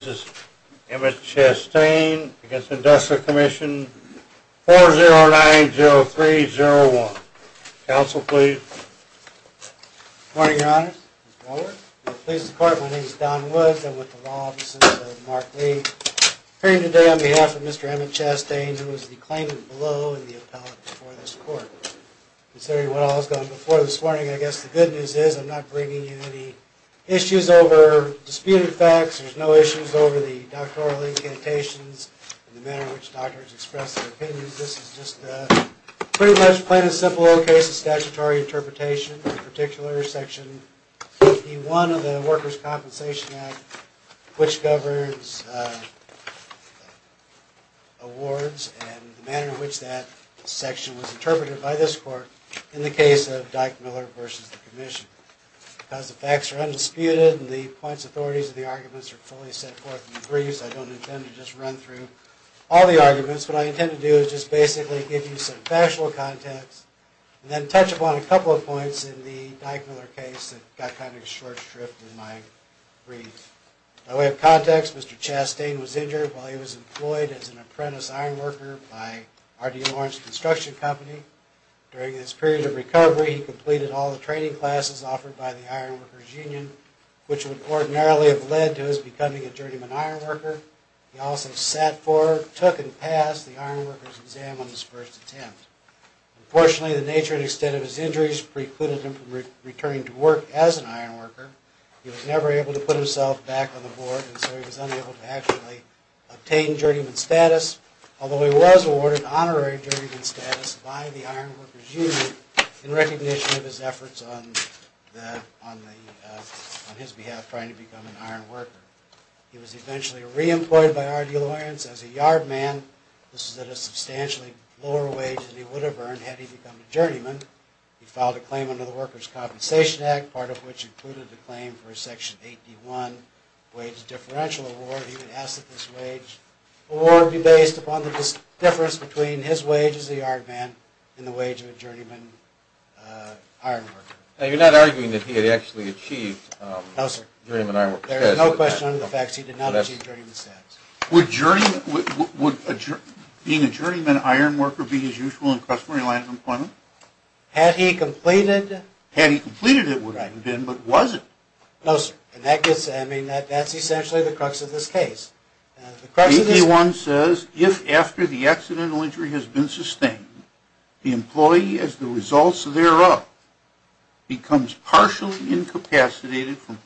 This is Emmitt Chastain against the Industrial Commission, 4090301. Counsel, please. Good morning, Your Honor. My name is Don Woods. I'm with the Law Offices of Mark Lee. Appearing today on behalf of Mr. Emmitt Chastain, who was the claimant below in the appellate before this court. Considering what all has gone before this morning, I guess the good news is I'm not bringing you any issues over disputed facts. There's no issues over the doctoral incantations and the manner in which doctors express their opinions. This is just a pretty much plain and simple case of statutory interpretation. In particular, Section 51 of the Workers' Compensation Act, which governs awards and the manner in which that section was interpreted by this court in the case of Dyke-Miller v. the Commission. Because the facts are undisputed and the points, authorities, and the arguments are fully set forth in the briefs, I don't intend to just run through all the arguments. What I intend to do is just basically give you some factual context and then touch upon a couple of points in the Dyke-Miller case that got kind of short-stripped in my brief. By way of context, Mr. Chastain was injured while he was employed as an apprentice iron worker by R.D. Lawrence Construction Company. During his period of recovery, he completed all the training classes offered by the Iron Workers' Union, which would ordinarily have led to his becoming a journeyman iron worker. He also sat for, took, and passed the iron workers' exam on his first attempt. Unfortunately, the nature and extent of his injuries precluded him from returning to work as an iron worker. He was never able to put himself back on the board, and so he was unable to actually obtain journeyman status, although he was awarded honorary journeyman status by the Iron Workers' Union in recognition of his efforts on his behalf trying to become an iron worker. He was eventually re-employed by R.D. Lawrence as a yard man. This was at a substantially lower wage than he would have earned had he become a journeyman. He filed a claim under the Workers' Compensation Act, part of which included a claim for a Section 81 wage differential award. He would ask that this wage award be based upon the difference between his wage as a yard man and the wage of a journeyman iron worker. Now, you're not arguing that he had actually achieved journeyman iron worker status? No, sir. There is no question under the facts he did not achieve journeyman status. Would being a journeyman iron worker be his usual and customary line of employment? Had he completed it? Had he completed it would have been, but was it? No, sir. I mean, that's essentially the crux of this case. Section 81 says, if after the accidental injury has been sustained, the employee, as the results thereof, becomes partially incapacitated from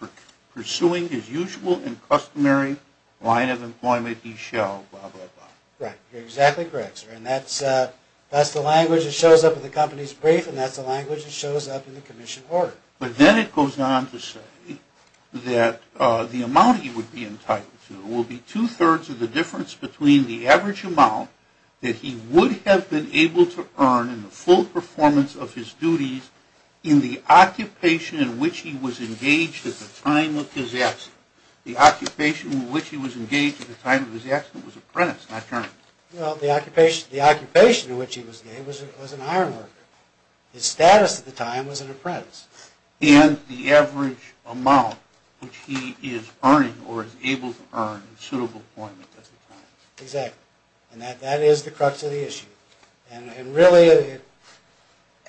pursuing his usual and customary line of employment, he shall blah, blah, blah. Right. You're exactly correct, sir. And that's the language that shows up in the company's brief, and that's the language that shows up in the commission order. But then it goes on to say that the amount he would be entitled to will be two-thirds of the difference between the average amount that he would have been able to earn in the full performance of his duties in the occupation in which he was engaged at the time of his accident. The occupation in which he was engaged at the time of his accident was apprentice, not journeyman. Well, the occupation in which he was engaged was an iron worker. His status at the time was an apprentice. And the average amount which he is earning or is able to earn in suitable employment at the time. Exactly. And that is the crux of the issue. And really,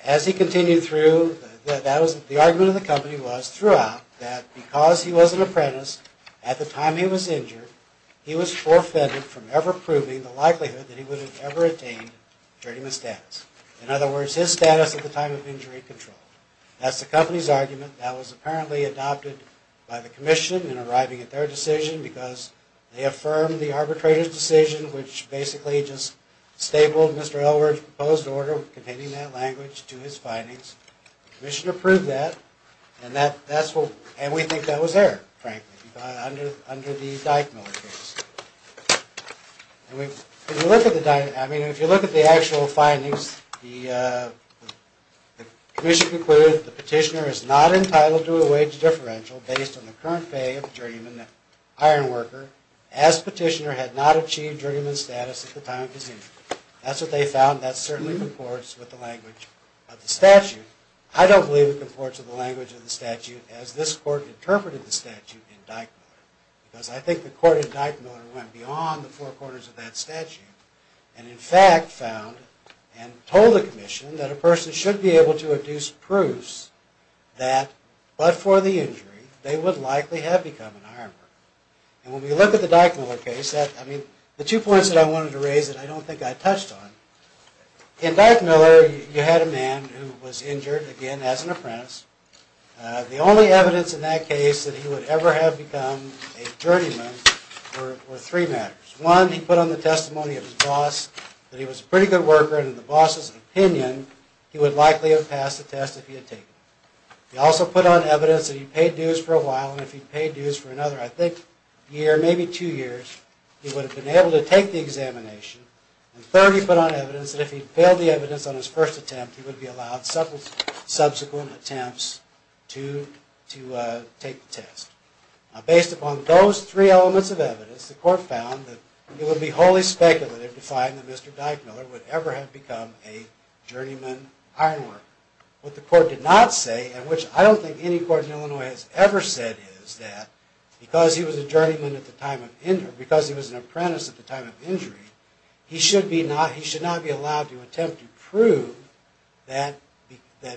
as he continued through, the argument of the company was throughout that because he was an apprentice, at the time he was injured, he was forfeited from ever proving the likelihood that he would have ever attained journeyman status. In other words, his status at the time of injury controlled. That's the company's argument that was apparently adopted by the commission in arriving at their decision because they affirmed the arbitrator's decision which basically just stapled Mr. Elwood's proposed order containing that language to his findings. The commission approved that and we think that was there, frankly, under the Dyckmiller case. And if you look at the actual findings, the commission concluded that the petitioner is not entitled to a wage differential based on the current pay of a journeyman iron worker as petitioner had not achieved journeyman status at the time of his injury. That's what they found. That certainly comports with the language of the statute. I don't believe it comports with the language of the statute as this court interpreted the statute in Dyckmiller. Because I think the court in Dyckmiller went beyond the four corners of that statute. And in fact found and told the commission that a person should be able to induce proofs that but for the injury they would likely have become an iron worker. And when we look at the Dyckmiller case, the two points that I wanted to raise that I don't think I touched on, in Dyckmiller you had a man who was injured, again, as an apprentice. The only evidence in that case that he would ever have become a journeyman were three matters. One, he put on the testimony of his boss that he was a pretty good worker and in the boss's opinion he would likely have passed the test if he had taken it. He also put on evidence that he paid dues for a while and if he paid dues for another, I think, year, maybe two years, he would have been able to take the examination. And third, he put on evidence that if he failed the evidence on his first attempt, he would be allowed subsequent attempts to take the test. Based upon those three elements of evidence, the court found that it would be wholly speculative to find that Mr. Dyckmiller would ever have become a journeyman iron worker. What the court did not say, and which I don't think any court in Illinois has ever said is that, because he was a journeyman at the time of injury, because he was an apprentice at the time of injury, he should not be allowed to attempt to prove that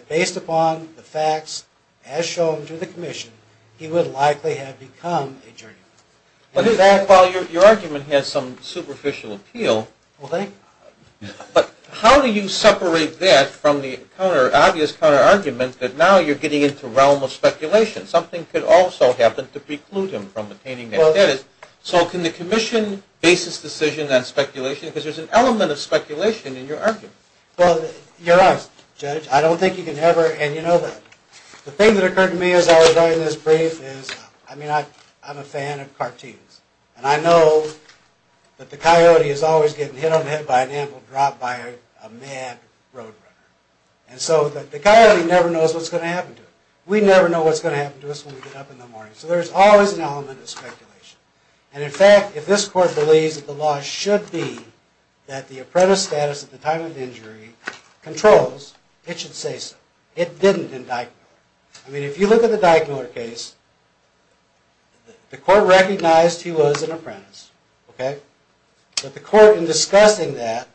based upon the facts as shown to the commission, he would likely have become a journeyman. In fact, while your argument has some superficial appeal, but how do you separate that from the obvious counter-argument that now you're getting into realm of speculation? Something could also happen to preclude him from attaining that status. So can the commission base its decision on speculation? Because there's an element of speculation in your argument. Well, you're right, Judge. I don't think you can ever, and you know that. The thing that occurred to me as I was writing this brief is, I mean, I'm a fan of cartoons. And I know that the coyote is always getting hit on the head by an anvil, dropped by a mad roadrunner. And so the coyote never knows what's going to happen to it. We never know what's going to happen to us when we get up in the morning. So there's always an element of speculation. And in fact, if this court believes that the law should be that the apprentice status at the time of injury controls, it should say so. It didn't in Dyckmiller. I mean, if you look at the Dyckmiller case, the court recognized he was an apprentice, okay? But the court, in discussing that,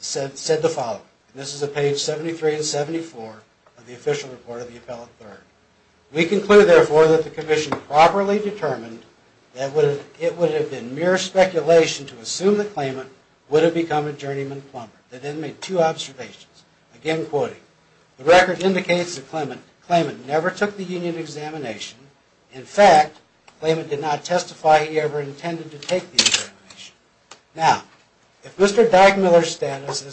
said the following. And this is at page 73 and 74 of the official report of the appellate third. We conclude, therefore, that the commission properly determined that it would have been mere speculation to assume the claimant would have become a journeyman plumber. They then made two observations. Again, quoting, the record indicates the claimant never took the union examination. In fact, the claimant did not testify he ever intended to take the examination. Now, if Mr. Dyckmiller's status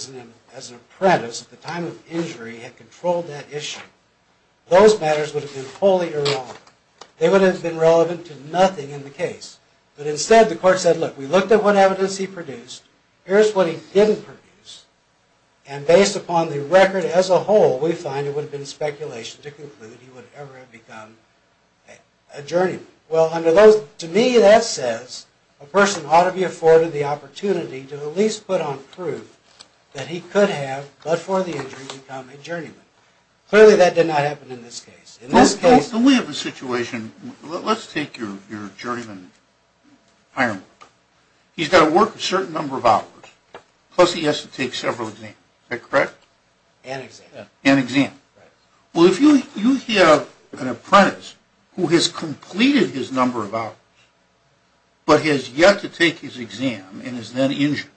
as an apprentice at the time of injury had controlled that issue, those matters would have been wholly irrelevant. They would have been relevant to nothing in the case. But instead, the court said, look, we looked at what evidence he produced. Here's what he didn't produce. And based upon the record as a whole, we find it would have been speculation to conclude he would ever have become a journeyman. Well, under those – to me, that says a person ought to be afforded the opportunity to at least put on proof that he could have, but for the injury, become a journeyman. Clearly, that did not happen in this case. In this case – So we have a situation – let's take your journeyman, Ironwood. He's got to work a certain number of hours, plus he has to take several exams. Is that correct? And exam. And exam. Well, if you have an apprentice who has completed his number of hours, but has yet to take his exam and is then injured,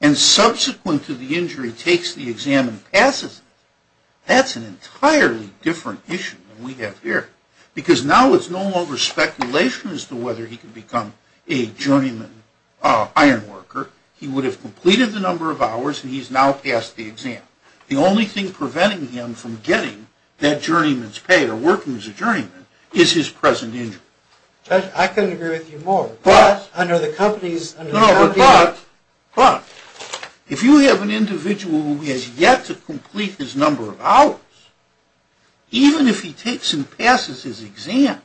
and subsequent to the injury, takes the exam and passes it, that's an entirely different issue than we have here. Because now it's no longer speculation as to whether he could become a journeyman ironworker. He would have completed the number of hours, and he's now passed the exam. The only thing preventing him from getting that journeyman's pay or working as a journeyman is his present injury. Judge, I couldn't agree with you more. But, under the company's – No, but, if you have an individual who has yet to complete his number of hours, even if he takes and passes his exam,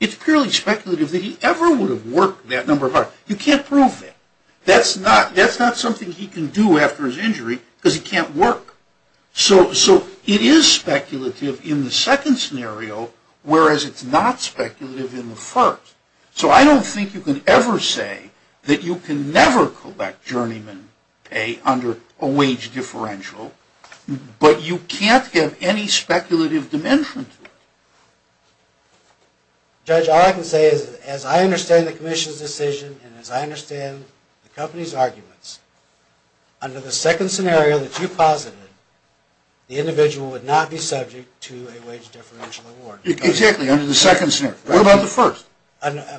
it's purely speculative that he ever would have worked that number of hours. You can't prove that. That's not something he can do after his injury, because he can't work. So it is speculative in the second scenario, whereas it's not speculative in the first. So I don't think you can ever say that you can never collect journeyman pay under a wage differential, but you can't give any speculative dimension to it. Judge, all I can say is, as I understand the Commission's decision, and as I understand the company's arguments, under the second scenario that you posited, the individual would not be subject to a wage differential award. Exactly, under the second scenario. What about the first?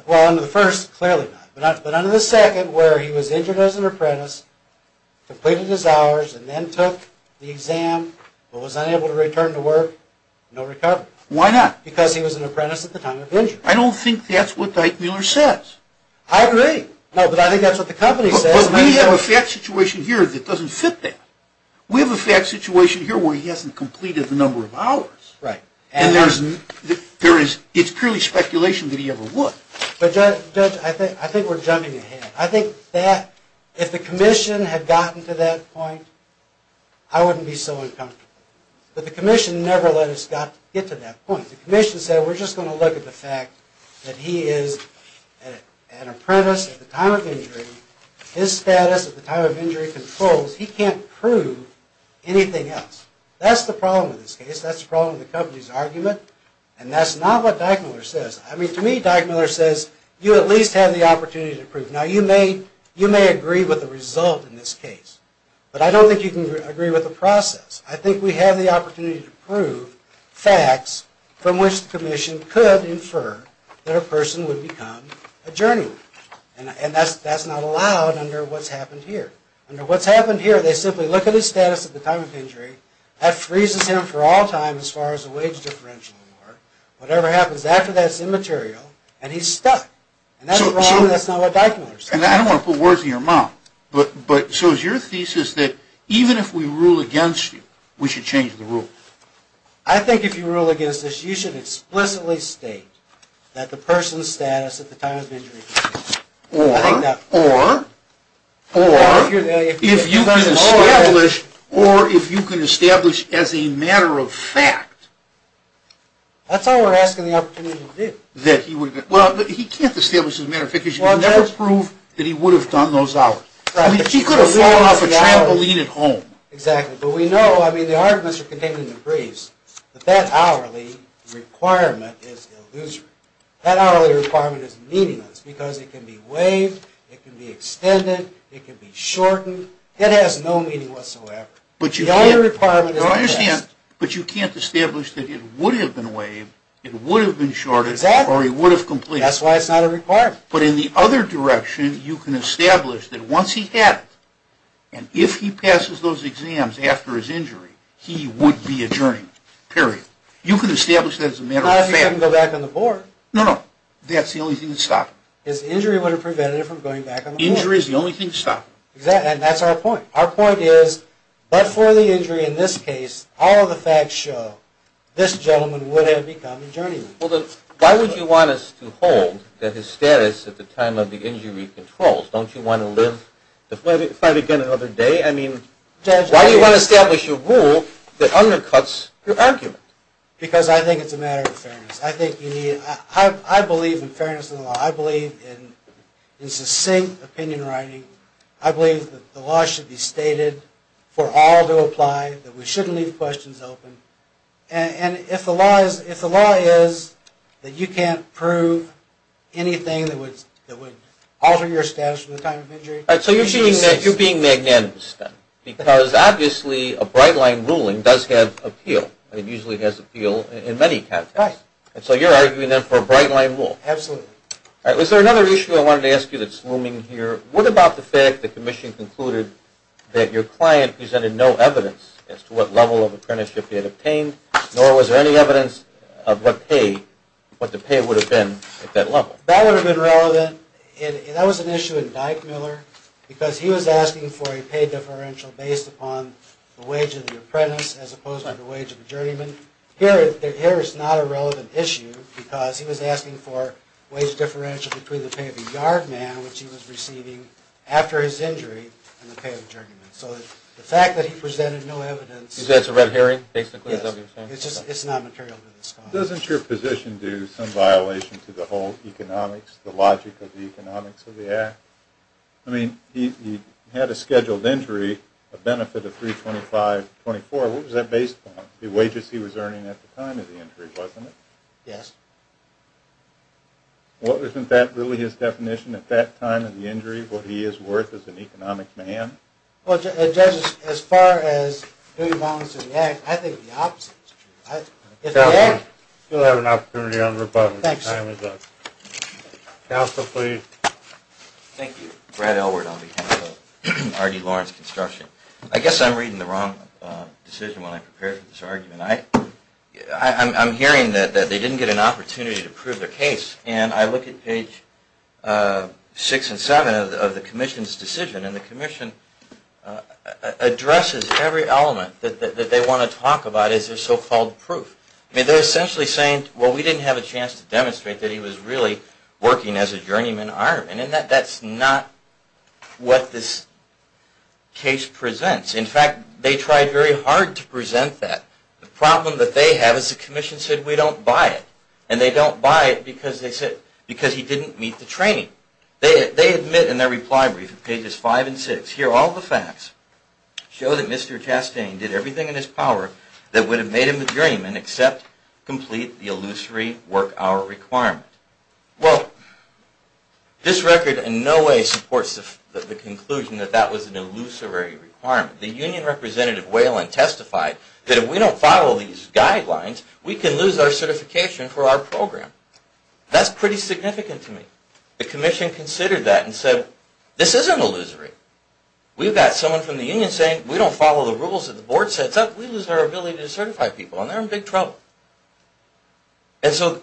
Well, under the first, clearly not. But under the second, where he was injured as an apprentice, completed his hours, and then took the exam, but was unable to return to work, no recovery. Why not? Because he was an apprentice at the time of injury. I don't think that's what Dyke-Mueller says. I agree. No, but I think that's what the company says. But we have a fat situation here that doesn't fit that. We have a fat situation here where he hasn't completed the number of hours. Right. And it's purely speculation that he ever would. But Judge, I think we're jumping ahead. I think that, if the Commission had gotten to that point, I wouldn't be so uncomfortable. But the Commission never let us get to that point. The Commission said, we're just going to look at the fact that he is an apprentice at the time of injury. His status at the time of injury controls. He can't prove anything else. That's the problem with this case. That's the problem with the company's argument. And that's not what Dyke-Mueller says. I mean, to me, Dyke-Mueller says, you at least have the opportunity to prove. Now, you may agree with the result in this case. But I don't think you can agree with the process. I think we have the opportunity to prove facts from which the Commission could infer that a person would become a journeyman. And that's not allowed under what's happened here. Under what's happened here, they simply look at his status at the time of injury. That freezes him for all time as far as the wage differential. Whatever happens after that's immaterial, and he's stuck. And that's not what Dyke-Mueller says. And I don't want to put words in your mouth. But so is your thesis that even if we rule against you, we should change the rule? I think if you rule against us, you should explicitly state that the person's status at the time of injury controls. Or, or, or, if you can establish as a matter of fact. That's all we're asking the opportunity to do. That he would have been. Well, he can't establish as a matter of fact because you can never prove that he would have done those hours. I mean, he could have flown off a trampoline at home. Exactly. But we know, I mean, the arguments are contained in the briefs. But that hourly requirement is illusory. That hourly requirement is meaningless because it can be waived. It can be extended. It can be shortened. It has no meaning whatsoever. The hourly requirement is the best. But you can't establish that it would have been waived. It would have been shorted. Exactly. Or he would have completed. That's why it's not a requirement. But in the other direction, you can establish that once he had it, and if he passes those exams after his injury, he would be adjourned. Period. You can establish that as a matter of fact. Not if he couldn't go back on the board. No, no. That's the only thing that would stop him. His injury would have prevented him from going back on the board. Injury is the only thing to stop him. Exactly, and that's our point. Our point is, but for the injury in this case, all of the facts show this gentleman would have become adjourned. Well, then, why would you want us to hold that his status at the time of the injury controls? Don't you want to live to fight again another day? I mean, why do you want to establish a rule that undercuts your argument? Because I think it's a matter of fairness. I believe in fairness in the law. I believe in succinct opinion writing. I believe that the law should be stated for all to apply, that we shouldn't leave questions open. And if the law is that you can't prove anything that would alter your status from the time of injury... All right, so you're being magnanimous then, because obviously a bright line ruling does have appeal. It usually has appeal in many contexts. And so you're arguing then for a bright line rule. Absolutely. All right, was there another issue I wanted to ask you that's looming here? What about the fact the commission concluded that your client presented no evidence as to what level of apprenticeship he had obtained, nor was there any evidence of what the pay would have been at that level? That would have been relevant. That was an issue in Dyke-Miller, because he was asking for a pay differential based upon the wage of the apprentice, as opposed to the wage of the journeyman. Here, it's not a relevant issue, because he was asking for a wage differential between the pay of the yard man, which he was receiving after his injury, and the pay of the journeyman. So the fact that he presented no evidence... Is that a red herring, basically? Yes, it's just not material to discuss. Doesn't your position do some violation to the whole economics, the logic of the economics of the act? I mean, he had a scheduled injury, a benefit of $325,000, $324,000. What was that based upon? The wages he was earning at the time of the injury, wasn't it? Yes. Well, isn't that really his definition at that time of the injury, what he is worth as an economic man? Well, Judge, as far as doing violence to the act, I think the opposite is true. Counsel, you'll have an opportunity on rebuttal at the time of the... Counsel, please. Thank you. Brad Elword on behalf of R.D. Lawrence Construction. I guess I'm reading the wrong decision when I prepared for this argument. I'm hearing that they didn't get an opportunity to prove their case, and I look at page 6 and 7 of the Commission's decision, and the Commission addresses every element that they want to talk about as their so-called proof. I mean, they're essentially saying, well, we didn't have a chance to demonstrate that he was really working as a journeyman ironman, and that's not what this case presents. In fact, they tried very hard to present that. The problem that they have is the Commission said, we don't buy it, and they don't buy it because he didn't meet the training. They admit in their reply brief, pages 5 and 6, here all the facts show that Mr. Chastain did everything in his power that would have made him a journeyman except complete the illusory work hour requirement. Well, this record in no way supports the conclusion that that was an illusory requirement. The Union Representative Whalen testified that if we don't follow these guidelines, we can lose our certification for our program. That's pretty significant to me. The Commission considered that and said, this isn't illusory. We've got someone from the Union saying, we don't follow the rules that the Board sets up, we lose our ability to certify people, and they're in big trouble. And so,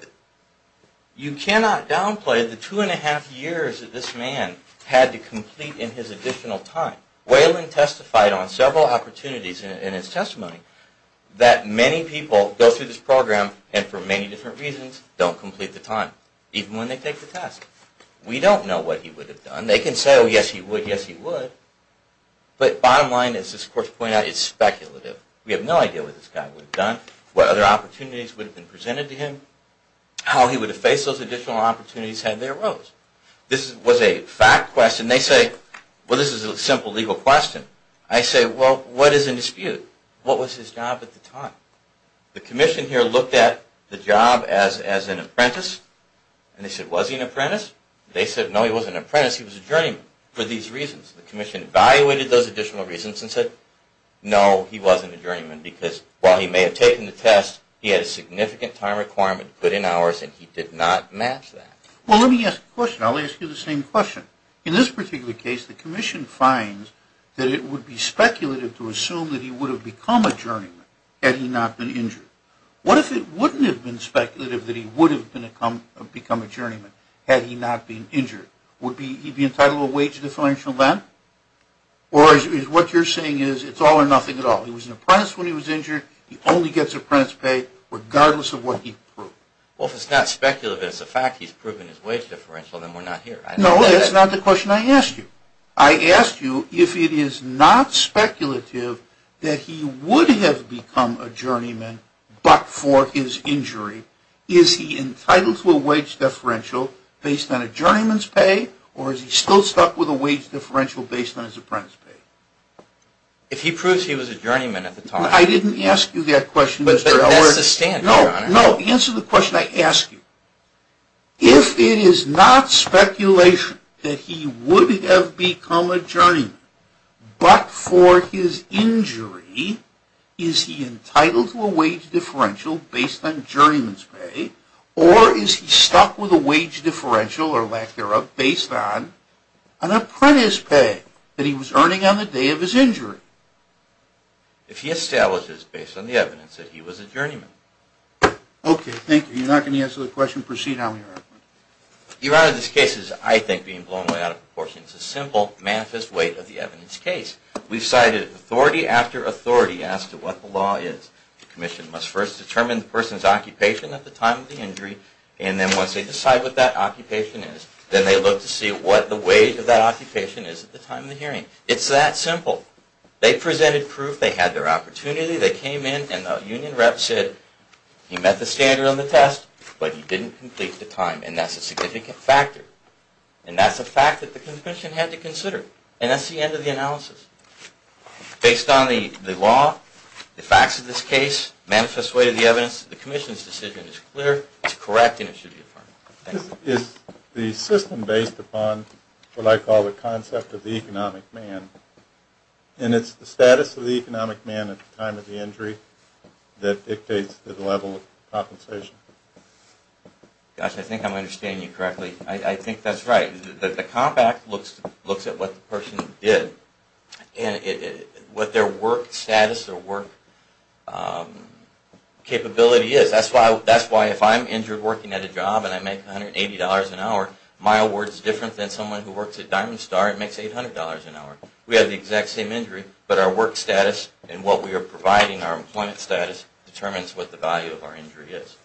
you cannot downplay the two and a half years that this man had to complete in his additional time. Whalen testified on several opportunities in his testimony that many people go through this program and for many different reasons, don't complete the time, even when they take the test. We don't know what he would have done. They can say, oh, yes, he would, yes, he would, but bottom line, as this course pointed out, it's speculative. We have no idea what this guy would have done, what other opportunities would have been presented to him, how he would have faced those additional opportunities had they arose. This was a fact question. They say, well, this is a simple legal question. I say, well, what is in dispute? What was his job at the time? The Commission here looked at the job as an apprentice, and they said, was he an apprentice? They said, no, he wasn't an apprentice. He was a journeyman for these reasons. The Commission evaluated those additional reasons and said, no, he wasn't a journeyman because while he may have taken the test, he had a significant time requirement to put in hours, and he did not match that. Well, let me ask a question. I'll ask you the same question. In this particular case, the Commission finds that it would be speculative to assume that he would have become a journeyman had he not been injured. What if it wouldn't have been speculative that he would have become a journeyman had he not been injured? Would he be entitled to a wage differential then? Or is what you're saying is it's all or nothing at all? He was an apprentice when he was injured. He only gets apprentice pay regardless of what he proved. Well, if it's not speculative, it's the fact he's proven his wage differential, then we're not here. No, that's not the question I asked you. I asked you if it is not speculative that he would have become a journeyman but for his injury, is he entitled to a wage differential based on a journeyman's pay, or is he still stuck with a wage differential based on his apprentice pay? If he proves he was a journeyman at the time. I didn't ask you that question. But that's the stance, Your Honor. No, no, answer the question I asked you. If it is not speculation that he would have become a journeyman but for his injury, is he entitled to a wage differential based on journeyman's pay, or is he stuck with a wage differential, or lack thereof, based on an apprentice pay that he was earning on the day of his injury? If he establishes based on the evidence that he was a journeyman. Okay, thank you. You're not going to answer the question? Proceed on, Your Honor. Your Honor, this case is, I think, being blown way out of proportion. It's a simple, manifest weight of the evidence case. We've cited authority after authority as to what the law is. The commission must first determine the person's occupation at the time of the injury, and then once they decide what that occupation is, then they look to see what the wage of that occupation is at the time of the hearing. It's that simple. They presented proof. They had their opportunity. They came in, and the union rep said, you met the standard on the test, but you didn't complete the time, and that's a significant factor, and that's a fact that the commission had to consider, and that's the end of the analysis. Based on the law, the facts of this case, manifest weight of the evidence, the commission's decision is clear, it's correct, and it should be affirmed. Is the system based upon what I call the concept of the economic man, and it's the status of the economic man at the time of the injury that dictates the level of compensation. Gosh, I think I'm understanding you correctly. I think that's right. The compact looks at what the person did, and what their work status or work capability is. That's why if I'm injured working at a job, and I make $180 an hour, my award's different than someone who works at Diamond Star and makes $800 an hour. We have the exact same injury, but our work status and what we are providing, our employment status, determines what the value of our injury is.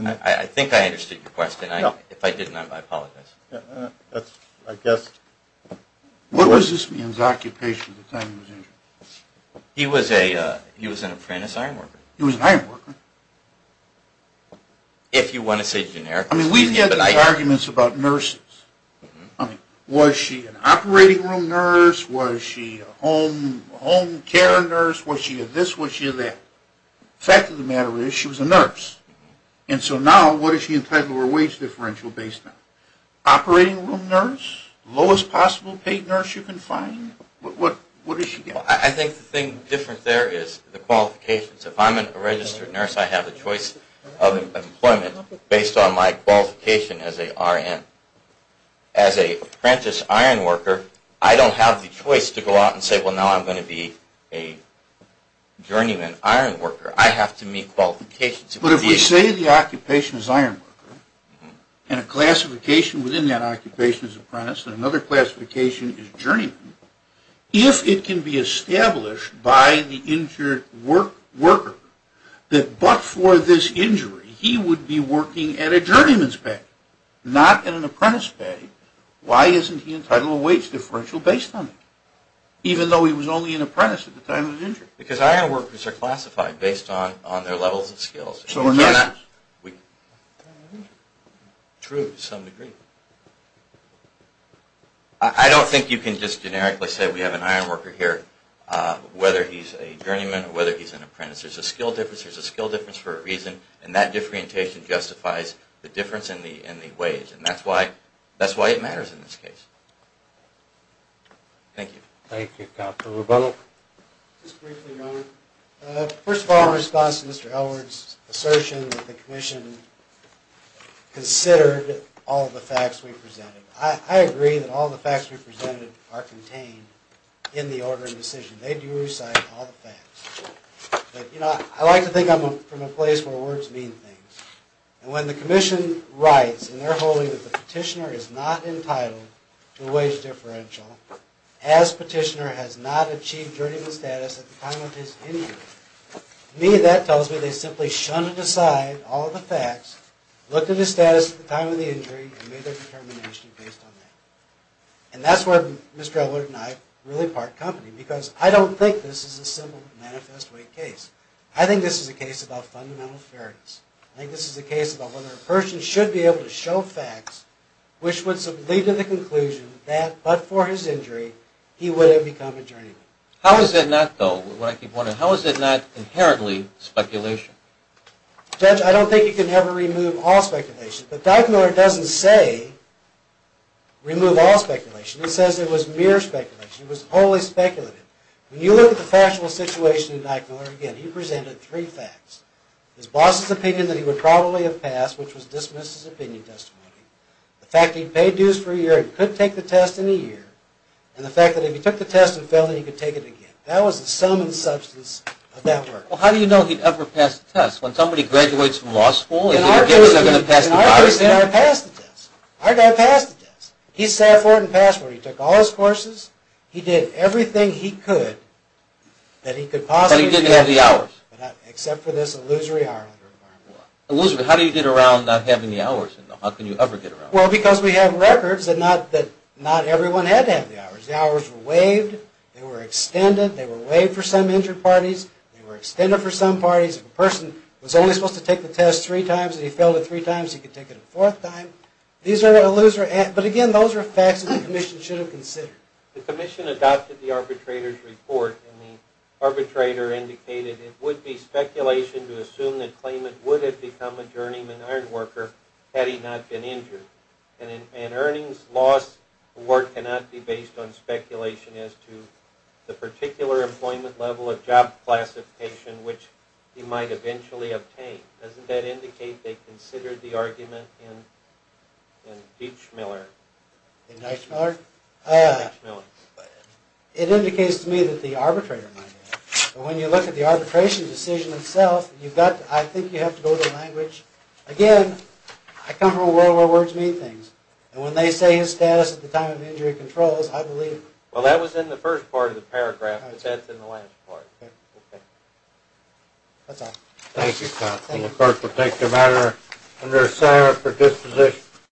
I think I understood your question. If I didn't, I apologize. I guess. What was this man's occupation at the time of his injury? He was an apprentice iron worker. He was an iron worker? If you want to say generically. I mean, we've had these arguments about nurses. I mean, was she an operating room nurse? Was she a home care nurse? Was she a this, was she a that? Fact of the matter is, she was a nurse. And so now, what does she entitle to her wage differential based on? Operating room nurse? Lowest possible paid nurse you can find? What does she get? I think the thing different there is the qualifications. If I'm a registered nurse, I have a choice of employment based on my qualification as a RN. As a apprentice iron worker, I don't have the choice to go out and say, well, now I'm going to be a journeyman iron worker. I have to meet qualifications. But if we say the occupation is iron worker, and a classification within that occupation is apprentice, and another classification is journeyman, if it can be established by the injured worker that but for this injury, he would be working at a journeyman's pay, not at an apprentice pay, why isn't he entitled to a wage differential based on it? Even though he was only an apprentice at the time of the injury. Because iron workers are classified based on their levels of skills. So we're not... True to some degree. I don't think you can just generically say we have an iron worker here, whether he's a journeyman or whether he's an apprentice. There's a skill difference. There's a skill difference for a reason. And that differentiation justifies the difference in the wage. And that's why it matters in this case. Thank you. Thank you. Dr. Rebunnel? Just briefly, Roman. First of all, in response to Mr. Elwood's assertion that the commission considered all the facts we presented. I agree that all the facts we presented are contained in the order of decision. They do recite all the facts. But, you know, I like to think I'm from a place where words mean things. And when the commission writes in their holding that the petitioner is not entitled to a wage differential as petitioner has not achieved journeyman status at the time of his injury, to me that tells me they simply shunned aside all the facts, looked at his status at the time of the injury, and made their determination based on that. And that's where Mr. Elwood and I really part company. Because I don't think this is a simple manifest way case. I think this is a case about fundamental fairness. I think this is a case about whether a person should be able to show facts which would lead to the conclusion that, but for his injury, he would have become a journeyman. How is it not, though, what I keep wondering, how is it not inherently speculation? Judge, I don't think you can ever remove all speculation. But Dr. Miller doesn't say remove all speculation. He says it was mere speculation. He was wholly speculative. When you look at the factual situation of Dr. Miller, again, he presented three facts. His boss's opinion that he would probably have passed, which was dismissed as opinion testimony, the fact that he paid dues for a year and could take the test in a year, and the fact that if he took the test and failed, then he could take it again. That was the sum and substance of that work. Well, how do you know he'd ever pass the test? When somebody graduates from law school, is it your guess they're going to pass the test? In our case, they never passed the test. Our guy passed the test. He sat for it and passed for it. He took all his courses. He did everything he could that he could possibly do. But he didn't have the hours? Except for this illusory hour requirement. Illusory? How do you get around not having the hours? How can you ever get around it? Well, because we have records that not everyone had to have the hours. The hours were waived. They were extended. They were waived for some injured parties. They were extended for some parties. If a person was only supposed to take the test three times and he failed it three times, he could take it a fourth time. These are illusory. But again, those are facts that the commission should have considered. The commission adopted the arbitrator's report. And the arbitrator indicated it would be speculation to assume that Clayman would have become a journeyman ironworker had he not been injured. And an earnings loss award cannot be based on speculation as to the particular employment level of job classification which he might eventually obtain. Doesn't that indicate they considered the argument in Deitch-Miller? In Deitch-Miller? It indicates to me that the arbitrator might have. But when you look at the arbitration decision itself, you've got to, I think you have to go to language. Again, I come from a world where words mean things. And when they say his status at the time of injury controls, I believe. Well, that was in the first part of the paragraph. But that's in the last part. That's all. Thank you, Scott. And the clerk will take the matter under assignment for disposition.